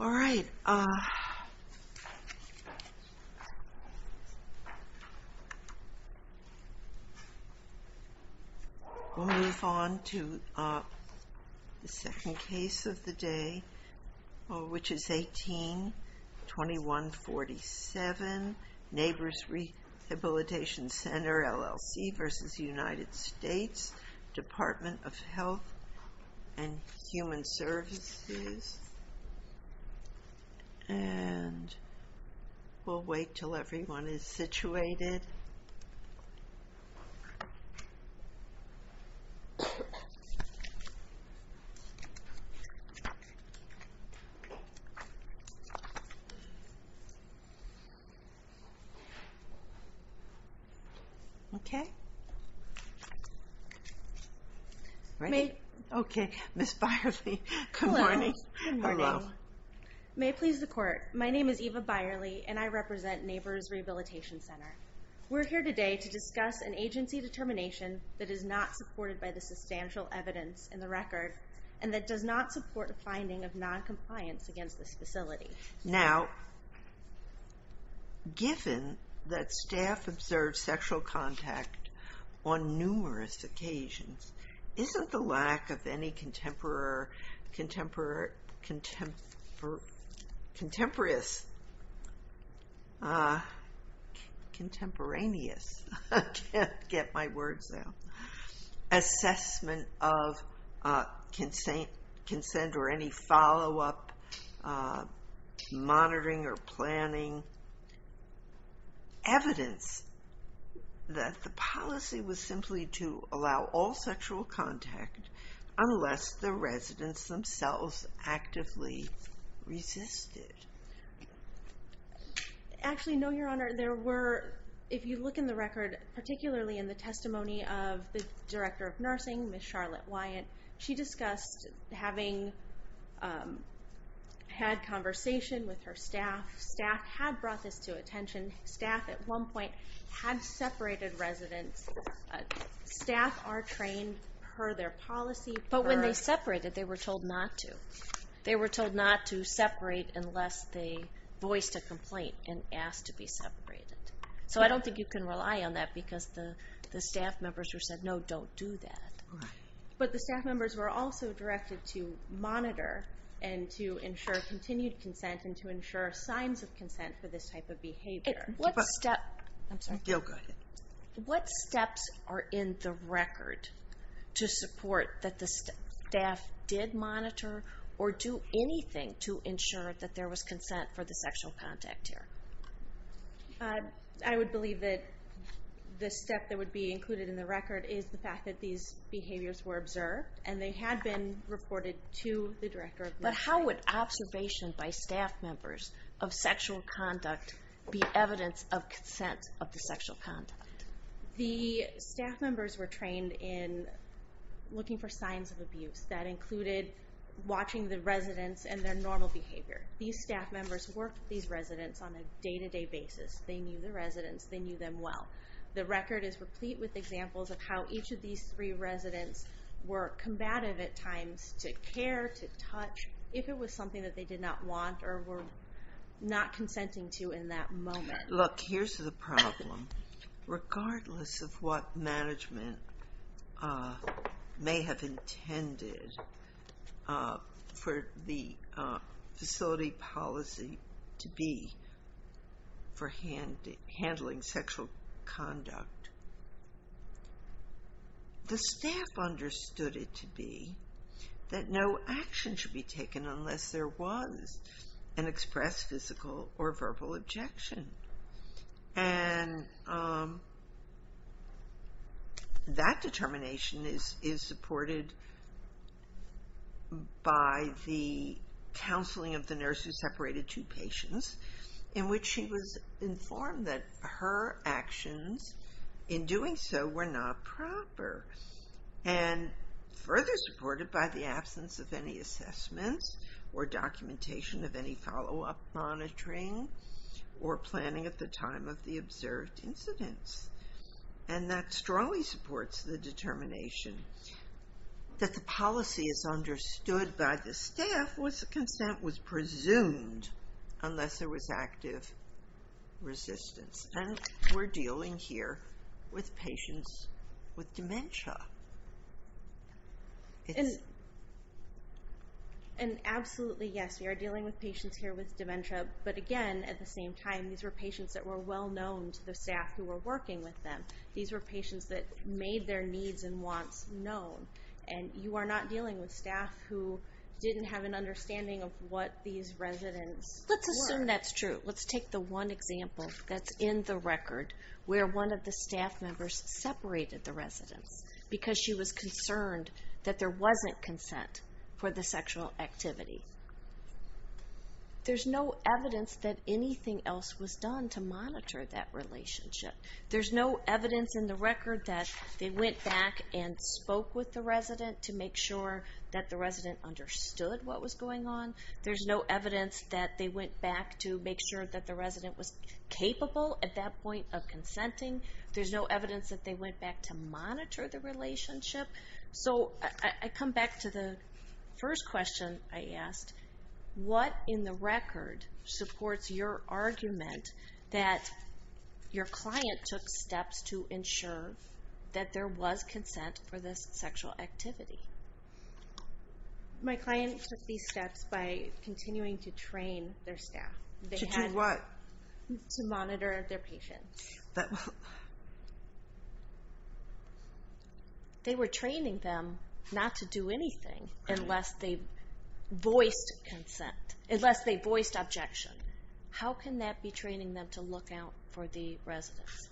All right. We'll move on to the second case of the day, which is 18-2147, Neighbors Rehabilitation Center, LLC v. United States, Department of Health and Human Services. And we'll wait until everyone is situated. Okay? Ready? Okay. Ms. Byerly, good morning. Hello. Good morning. Hello. May it please the Court, my name is Eva Byerly and I represent Neighbors Rehabilitation Center. We're here today to discuss an agency determination that is not supported by the substantial evidence in the record and that does not support a finding of noncompliance against this facility. Now, given that staff observed sexual contact on numerous occasions, isn't the lack of any monitoring or planning evidence that the policy was simply to allow all sexual contact unless the residents themselves actively resisted? Actually, no, Your Honor. There were, if you look in the record, particularly in the testimony of the Director of Nursing, Ms. Charlotte Wyatt, she discussed having had conversation with her staff. Staff had brought this to attention. Staff at one point had separated residents. Staff are trained per their policy. But when they separated, they were told not to. They were told not to separate unless they voiced a complaint and asked to be separated. So I don't think you can rely on that because the staff members were said, no, don't do that. But the staff members were also directed to monitor and to ensure continued consent and to ensure signs of consent for this type of behavior. What steps are in the record to support that the staff did monitor or do anything to ensure that there was consent for the sexual contact here? I would believe that the step that would be included in the record is the fact that these behaviors were observed and they had been reported to the Director of Nursing. But how would observation by staff members of sexual conduct be evidence of consent of the sexual contact? The staff members were trained in looking for signs of abuse. That included watching the residents and their normal behavior. These staff members worked with these residents on a day-to-day basis. They knew the residents. They knew them well. The record is replete with examples of how each of these three residents were combative at times to care, to touch, if it was something that they did not want or were not consenting to in that moment. Look, here's the problem. Regardless of what management may have intended for the facility policy to be for handling sexual conduct, the staff understood it to be that no action should be taken unless there was an expressed physical or verbal objection. That determination is supported by the counseling of the nurse who separated two patients in which she was informed that her actions in doing so were not proper and further supported by the absence of any assessments or documentation of any follow-up monitoring or planning at the time of the observed incidents. And that strongly supports the determination that the policy as understood by the staff was that consent was presumed unless there was active resistance. And we're dealing here with patients with dementia. And absolutely, yes, we are dealing with patients here with dementia. But again, at the same time, these were patients that were well known to the staff who were working with them. These were patients that made their needs and wants known. And you are not dealing with staff who didn't have an understanding of what these residents were. Let's assume that's true. Let's take the one example that's in the record where one of the staff members separated the residents because she was concerned that there wasn't consent for the sexual activity. There's no evidence that anything else was done to monitor that relationship. There's no evidence in the record that they went back and spoke with the resident to make sure that the resident understood what was going on. There's no evidence that they went back to make sure that the resident was capable at that point of consenting. There's no evidence that they went back to monitor the relationship. So I come back to the first question I asked. What in the record supports your argument that your client took steps to ensure that there was consent for the sexual activity? My client took these steps by continuing to train their staff. To do what? To monitor their patients. They were training them not to do anything unless they voiced consent. Unless they voiced objection. How can that be training them to look out for the residents?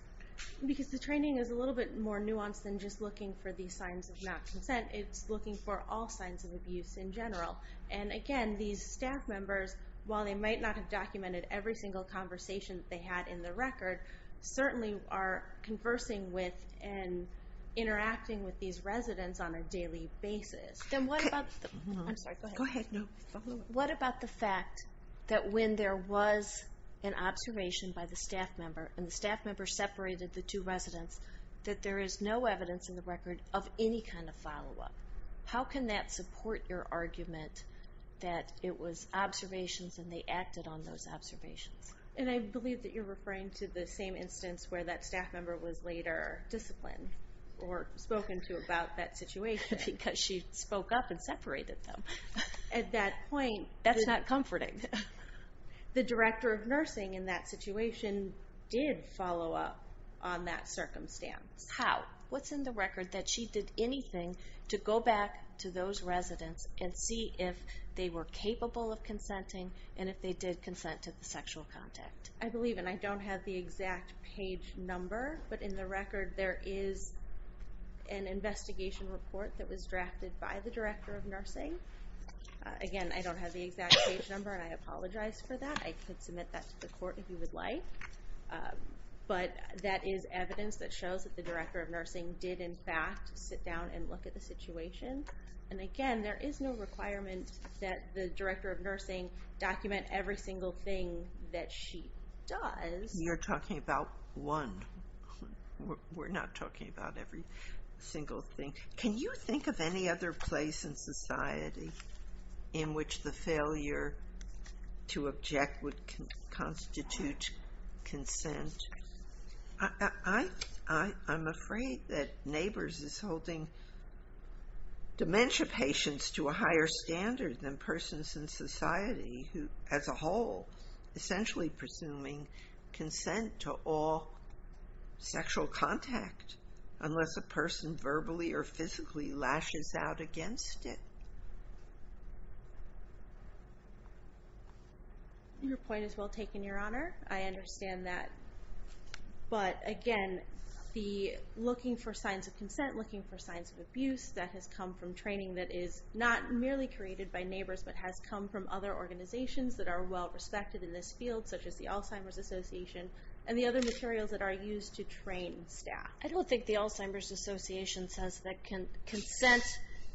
Because the training is a little bit more nuanced than just looking for the signs of not consent. It's looking for all signs of abuse in general. And again, these staff members, while they might not have documented every single conversation that they had in the record, certainly are conversing with and interacting with these residents on a daily basis. What about the fact that when there was an observation by the staff member, and the staff member separated the two residents, that there is no evidence in the record of any kind of follow-up? How can that support your argument that it was observations and they acted on those observations? And I believe that you're referring to the same instance where that staff member was later disciplined or spoken to about that situation. Because she spoke up and separated them. At that point... That's not comforting. The director of nursing in that situation did follow up on that circumstance. How? What's in the record that she did anything to go back to those residents and see if they were capable of consenting and if they did consent to the sexual contact? I believe, and I don't have the exact page number, but in the record there is an investigation report that was drafted by the director of nursing. Again, I don't have the exact page number and I apologize for that. I could submit that to the court if you would like. But that is evidence that shows that the director of nursing did in fact sit down and look at the situation. And again, there is no requirement that the director of nursing document every single thing that she does. You're talking about one. We're not talking about every single thing. Can you think of any other place in society in which the failure to object would constitute consent? I'm afraid that Neighbors is holding dementia patients to a higher standard than persons in society who, as a whole, essentially presuming consent to all sexual contact, unless a person verbally or physically lashes out against it. Your point is well taken, Your Honor. I understand that. But again, the looking for signs of consent, looking for signs of abuse that has come from training that is not merely created by Neighbors but has come from other organizations that are well respected in this field such as the Alzheimer's Association and the other materials that are used to train staff. I don't think the Alzheimer's Association says that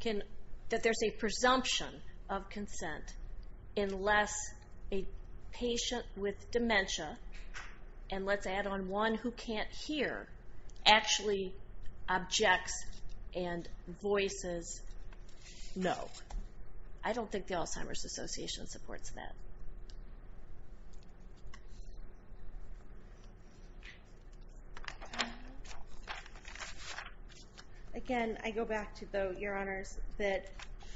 there is a presumption of consent unless a patient with dementia, and let's add on one who can't hear, actually objects and voices no. I don't think the Alzheimer's Association supports that. Again, I go back to, though, Your Honors, that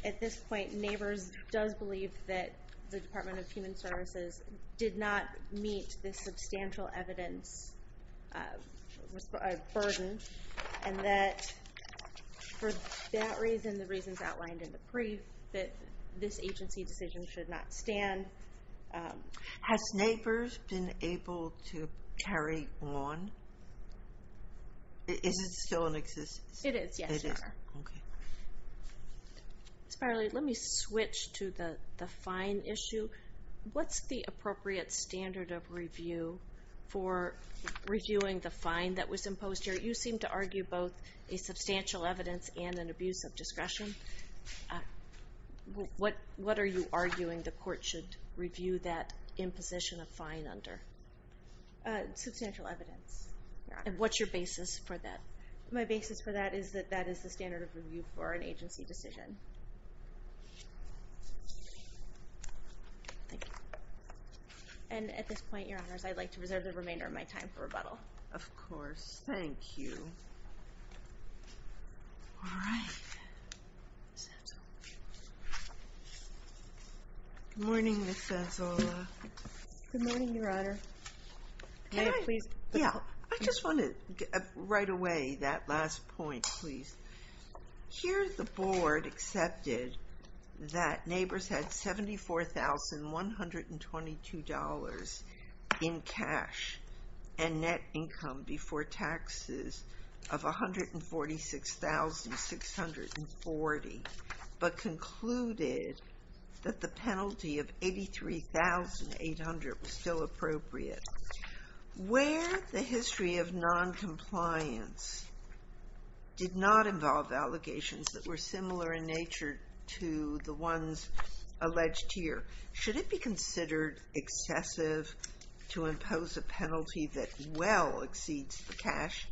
at this point Neighbors does believe that the Department of Human Services did not meet the substantial evidence burden, and that for that reason, the reasons outlined in the brief, that this agency decision should not stand. Has Neighbors been able to carry on? Is it still in existence? It is, yes, Your Honor. Ms. Parley, let me switch to the fine issue. What's the appropriate standard of review for reviewing the fine that was imposed here? You seem to argue both a substantial evidence and an abuse of discretion. What are you arguing the court should review that imposition of fine under? Substantial evidence, Your Honor. And what's your basis for that? My basis for that is that that is the standard of review for an agency decision. Thank you. And at this point, Your Honors, I'd like to reserve the remainder of my time for rebuttal. Of course. Thank you. All right. Good morning, Ms. Sanzulla. Good morning, Your Honor. Can I, yeah, I just want to, right away, that last point, please. Here, the board accepted that Neighbors had $74,122 in cash and net income before taxes of $146,640, but concluded that the penalty of $83,800 was still appropriate. Where the history of noncompliance did not involve allegations that were similar in nature to the ones alleged here, should it be considered excessive to impose a penalty that well exceeds the cash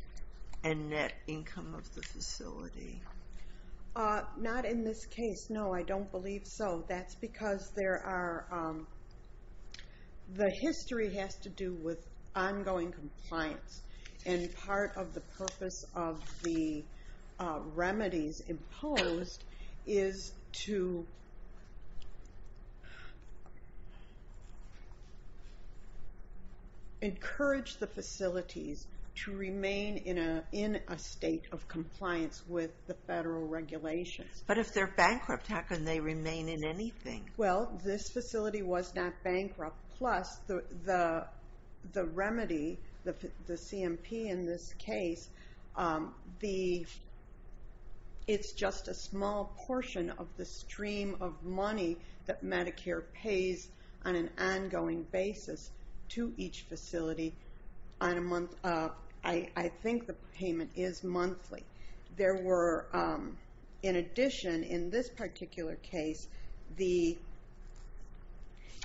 and net income of the facility? Not in this case, no, I don't believe so. That's because there are, the history has to do with ongoing compliance. And part of the purpose of the remedies imposed is to But if they're bankrupt, how can they remain in anything? Well, this facility was not bankrupt, plus the remedy, the CMP in this case, the, it's just a small portion of the stream of money that Medicare pays on an ongoing basis to each facility on a month, I think the payment is monthly. There were, in addition, in this particular case, the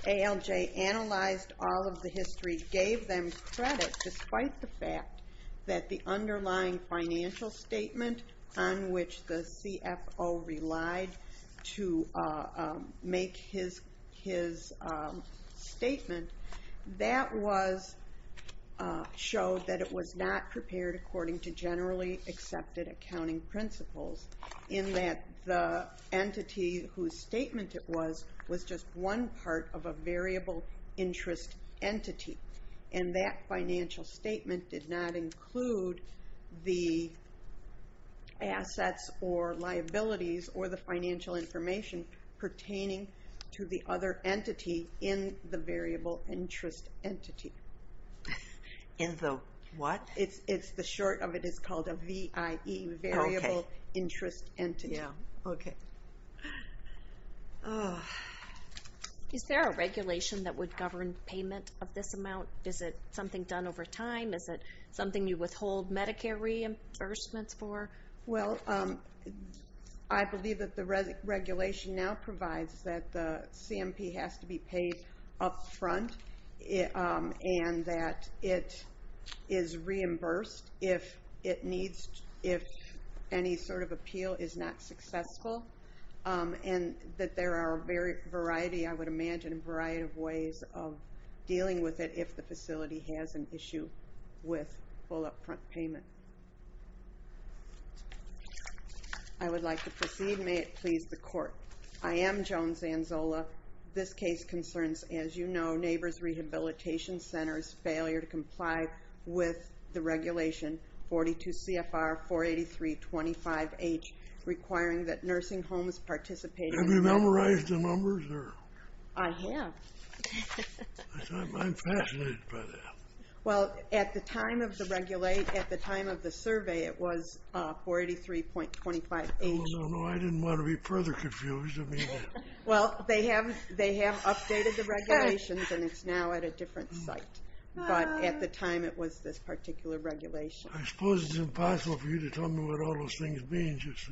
ALJ analyzed all of the history, gave them credit despite the fact that the underlying financial statement on which the CFO relied to make his statement, that was, showed that it was not prepared according to generally accepted accounting principles in that the entity whose statement it was, was just one part of a variable interest entity. And that financial statement did not include the assets or liabilities or the financial information pertaining to the other entity in the variable interest entity. In the what? It's, the short of it is called a VIE, Variable Interest Entity. Yeah, okay. Is there a regulation that would govern payment of this amount? Is it something done over time? Is it something you withhold Medicare reimbursements for? Well, I believe that the regulation now provides that the CMP has to be paid up front and that it is reimbursed if it needs, if any sort of appeal is not successful. And that there are a variety, I would imagine, a variety of ways of dealing with it if the facility has an issue with full up-front payment. I would like to proceed. May it please the court. I am Joan Zanzola. This case concerns, as you know, Neighbors Rehabilitation Center's failure to comply with the regulation 42 CFR 483-25H requiring that nursing homes participate. Have you memorized the numbers? I have. I'm fascinated by that. Well, at the time of the regulate, at the time of the survey, it was 483.25H. Oh, no, no, I didn't want to be further confused. Well, they have updated the regulations and it's now at a different site. But at the time it was this particular regulation. I suppose it's impossible for you to tell me what all those things mean, just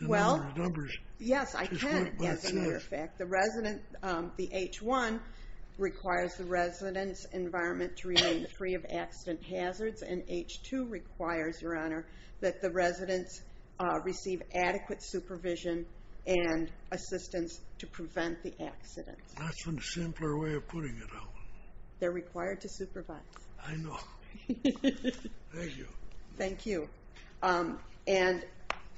the number of numbers. Yes, I can, as a matter of fact. The resident, the H-1, requires the resident's environment to remain free of accident hazards. And H-2 requires, Your Honor, that the residents receive adequate supervision and assistance to prevent the accidents. That's one simpler way of putting it. They're required to supervise. I know. Thank you. Thank you. And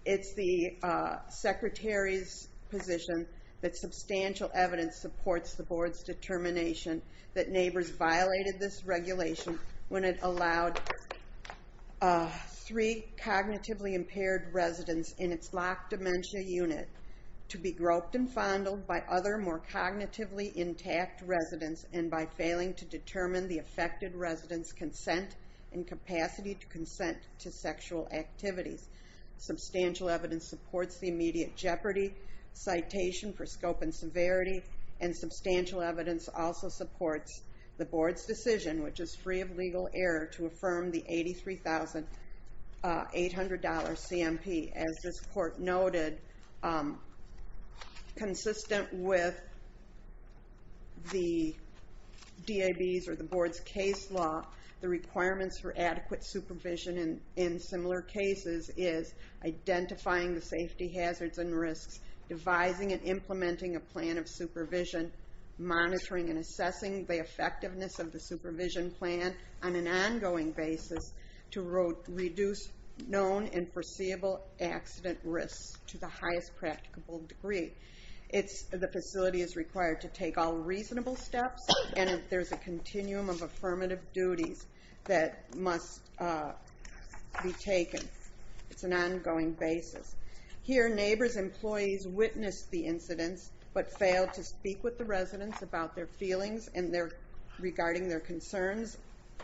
it's the Secretary's position that substantial evidence supports the Board's determination that neighbors violated this regulation when it allowed three cognitively impaired residents in its locked dementia unit to be groped and fondled by other more cognitively intact residents and by failing to determine the affected resident's consent and capacity to consent to sexual activities. Substantial evidence supports the immediate jeopardy citation for scope and severity. And substantial evidence also supports the Board's decision, which is free of legal error, to affirm the $83,800 CMP. As this Court noted, consistent with the DAB's or the Board's case law, the requirements for adequate supervision in similar cases is identifying the safety hazards and risks, devising and implementing a plan of supervision, monitoring and assessing the effectiveness of the supervision plan on an ongoing basis to reduce known and foreseeable accident risks to the highest practicable degree. The facility is required to take all reasonable steps, and there's a continuum of affirmative duties that must be taken. It's an ongoing basis. Here, neighbors' employees witnessed the incidents but failed to speak with the residents about their feelings and regarding their concerns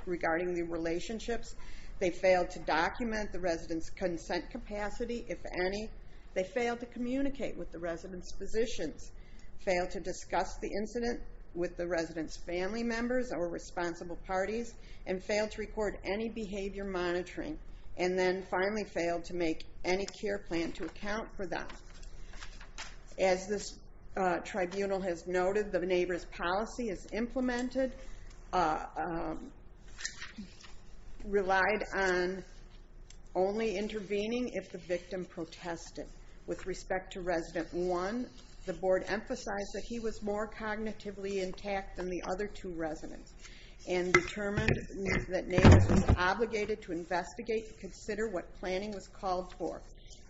regarding the relationships. They failed to document the residents' consent capacity, if any. They failed to communicate with the residents' physicians, failed to discuss the incident with the residents' family members or responsible parties, and failed to record any behavior monitoring, and then finally failed to make any care plan to account for them. As this tribunal has noted, the neighbors' policy as implemented relied on only intervening if the victim protested. With respect to Resident 1, the Board emphasized that he was more cognitively intact than the other two residents and determined that neighbors were obligated to investigate and consider what planning was called for.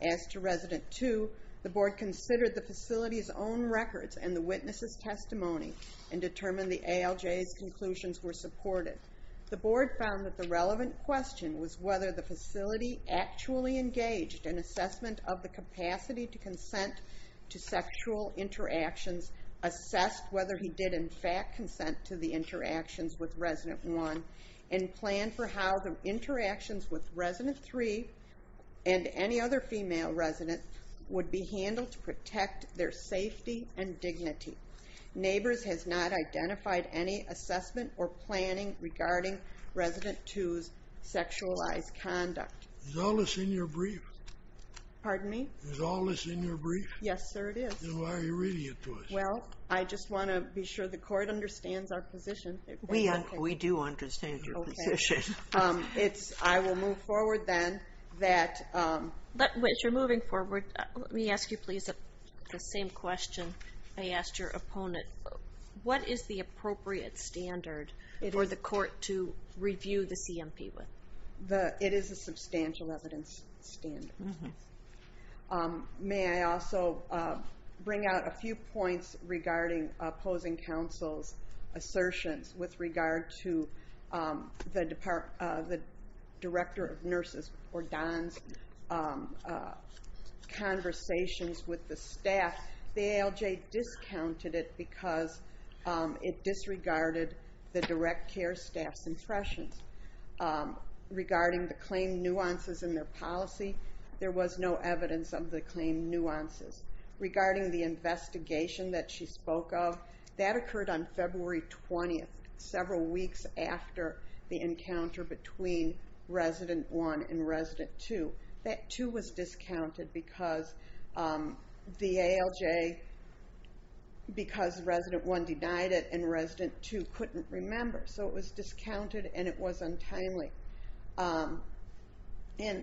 As to Resident 2, the Board considered the facility's own records and the witnesses' testimony and determined the ALJ's conclusions were supported. The Board found that the relevant question was whether the facility actually engaged in assessment of the capacity to consent to sexual interactions, assessed whether he did in fact consent to the interactions with Resident 1, and planned for how the interactions with Resident 3 and any other female resident would be handled to protect their safety and dignity. Neighbors has not identified any assessment or planning regarding Resident 2's sexualized conduct. Is all this in your brief? Pardon me? Is all this in your brief? Yes, sir, it is. Then why are you reading it to us? Well, I just want to be sure the court understands our position. We do understand your position. I will move forward then. As you're moving forward, let me ask you, please, the same question I asked your opponent. What is the appropriate standard for the court to review the CMP with? It is a substantial evidence standard. May I also bring out a few points regarding opposing counsel's assertions with regard to the Director of Nurses, or Don's, conversations with the staff. The ALJ discounted it because it disregarded the direct care staff's impressions regarding the claim nuances in their policy. There was no evidence of the claim nuances. Regarding the investigation that she spoke of, that occurred on February 20th, several weeks after the encounter between Resident 1 and Resident 2. That, too, was discounted because the ALJ, because Resident 1 denied it and Resident 2 couldn't remember. So it was discounted and it was untimely.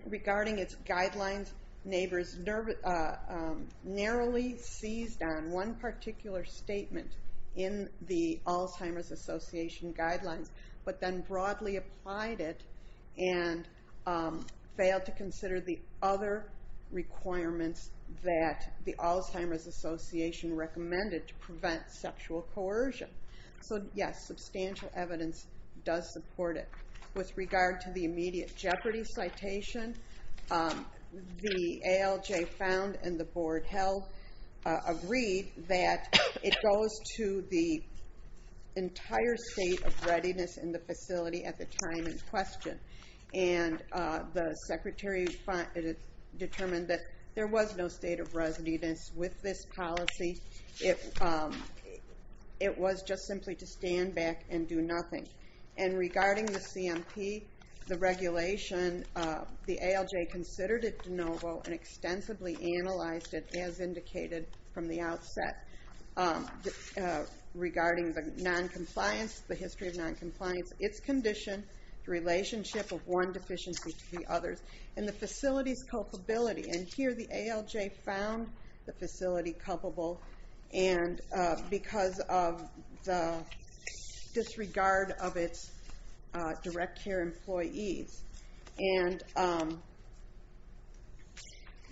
Regarding its guidelines, neighbors narrowly seized on one particular statement in the Alzheimer's Association guidelines, but then broadly applied it and failed to consider the other requirements that the Alzheimer's Association recommended to prevent sexual coercion. So, yes, substantial evidence does support it. With regard to the immediate jeopardy citation, the ALJ found and the board held, agreed that it goes to the entire state of readiness in the facility at the time in question. And the secretary determined that there was no state of readiness with this policy. It was just simply to stand back and do nothing. And regarding the CMP, the regulation, the ALJ considered it de novo and extensively analyzed it as indicated from the outset. Regarding the noncompliance, the history of noncompliance, its condition, the relationship of one deficiency to the others, and the facility's culpability. And here the ALJ found the facility culpable because of the disregard of its direct care employees and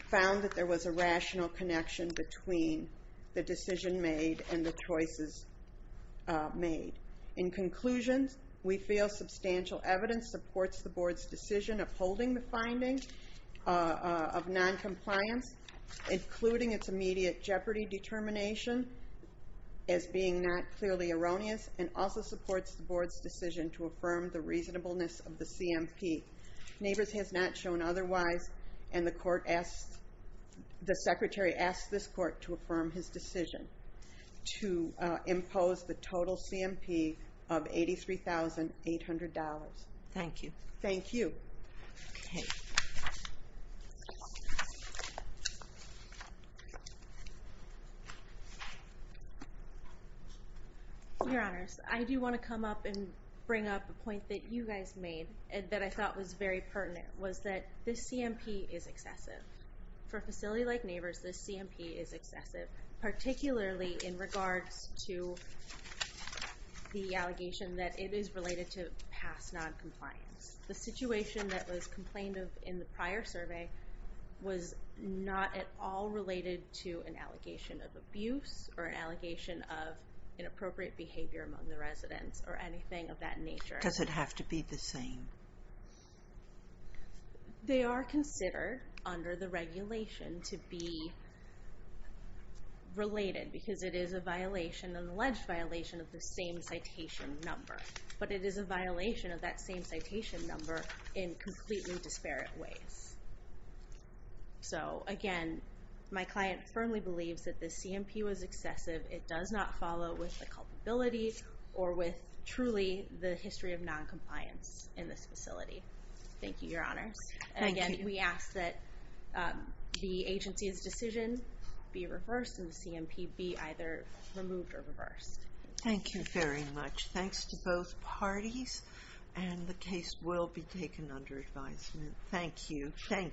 found that there was a rational connection between the decision made and the choices made. In conclusion, we feel substantial evidence supports the board's decision upholding the finding of noncompliance, including its immediate jeopardy determination as being not clearly erroneous, and also supports the board's decision to affirm the reasonableness of the CMP. Neighbors has not shown otherwise, and the court asked, the secretary asked this court to affirm his decision to impose the total CMP of $83,800. Thank you. Thank you. Your Honors, I do want to come up and bring up a point that you guys made that I thought was very pertinent, was that this CMP is excessive. For a facility like Neighbors, this CMP is excessive, particularly in regards to the allegation that it is related to past noncompliance. The situation that was complained of in the prior survey was not at all related to an allegation of abuse or an allegation of inappropriate behavior among the residents or anything of that nature. Does it have to be the same? They are considered under the regulation to be related, because it is an alleged violation of the same citation number. But it is a violation of that same citation number in completely disparate ways. So, again, my client firmly believes that this CMP was excessive. It does not follow with the culpability or with truly the history of noncompliance in this facility. Thank you, Your Honors. Again, we ask that the agency's decision be reversed and the CMP be either removed or reversed. Thank you very much. Thanks to both parties, and the case will be taken under advisement. Thank you. Thank you.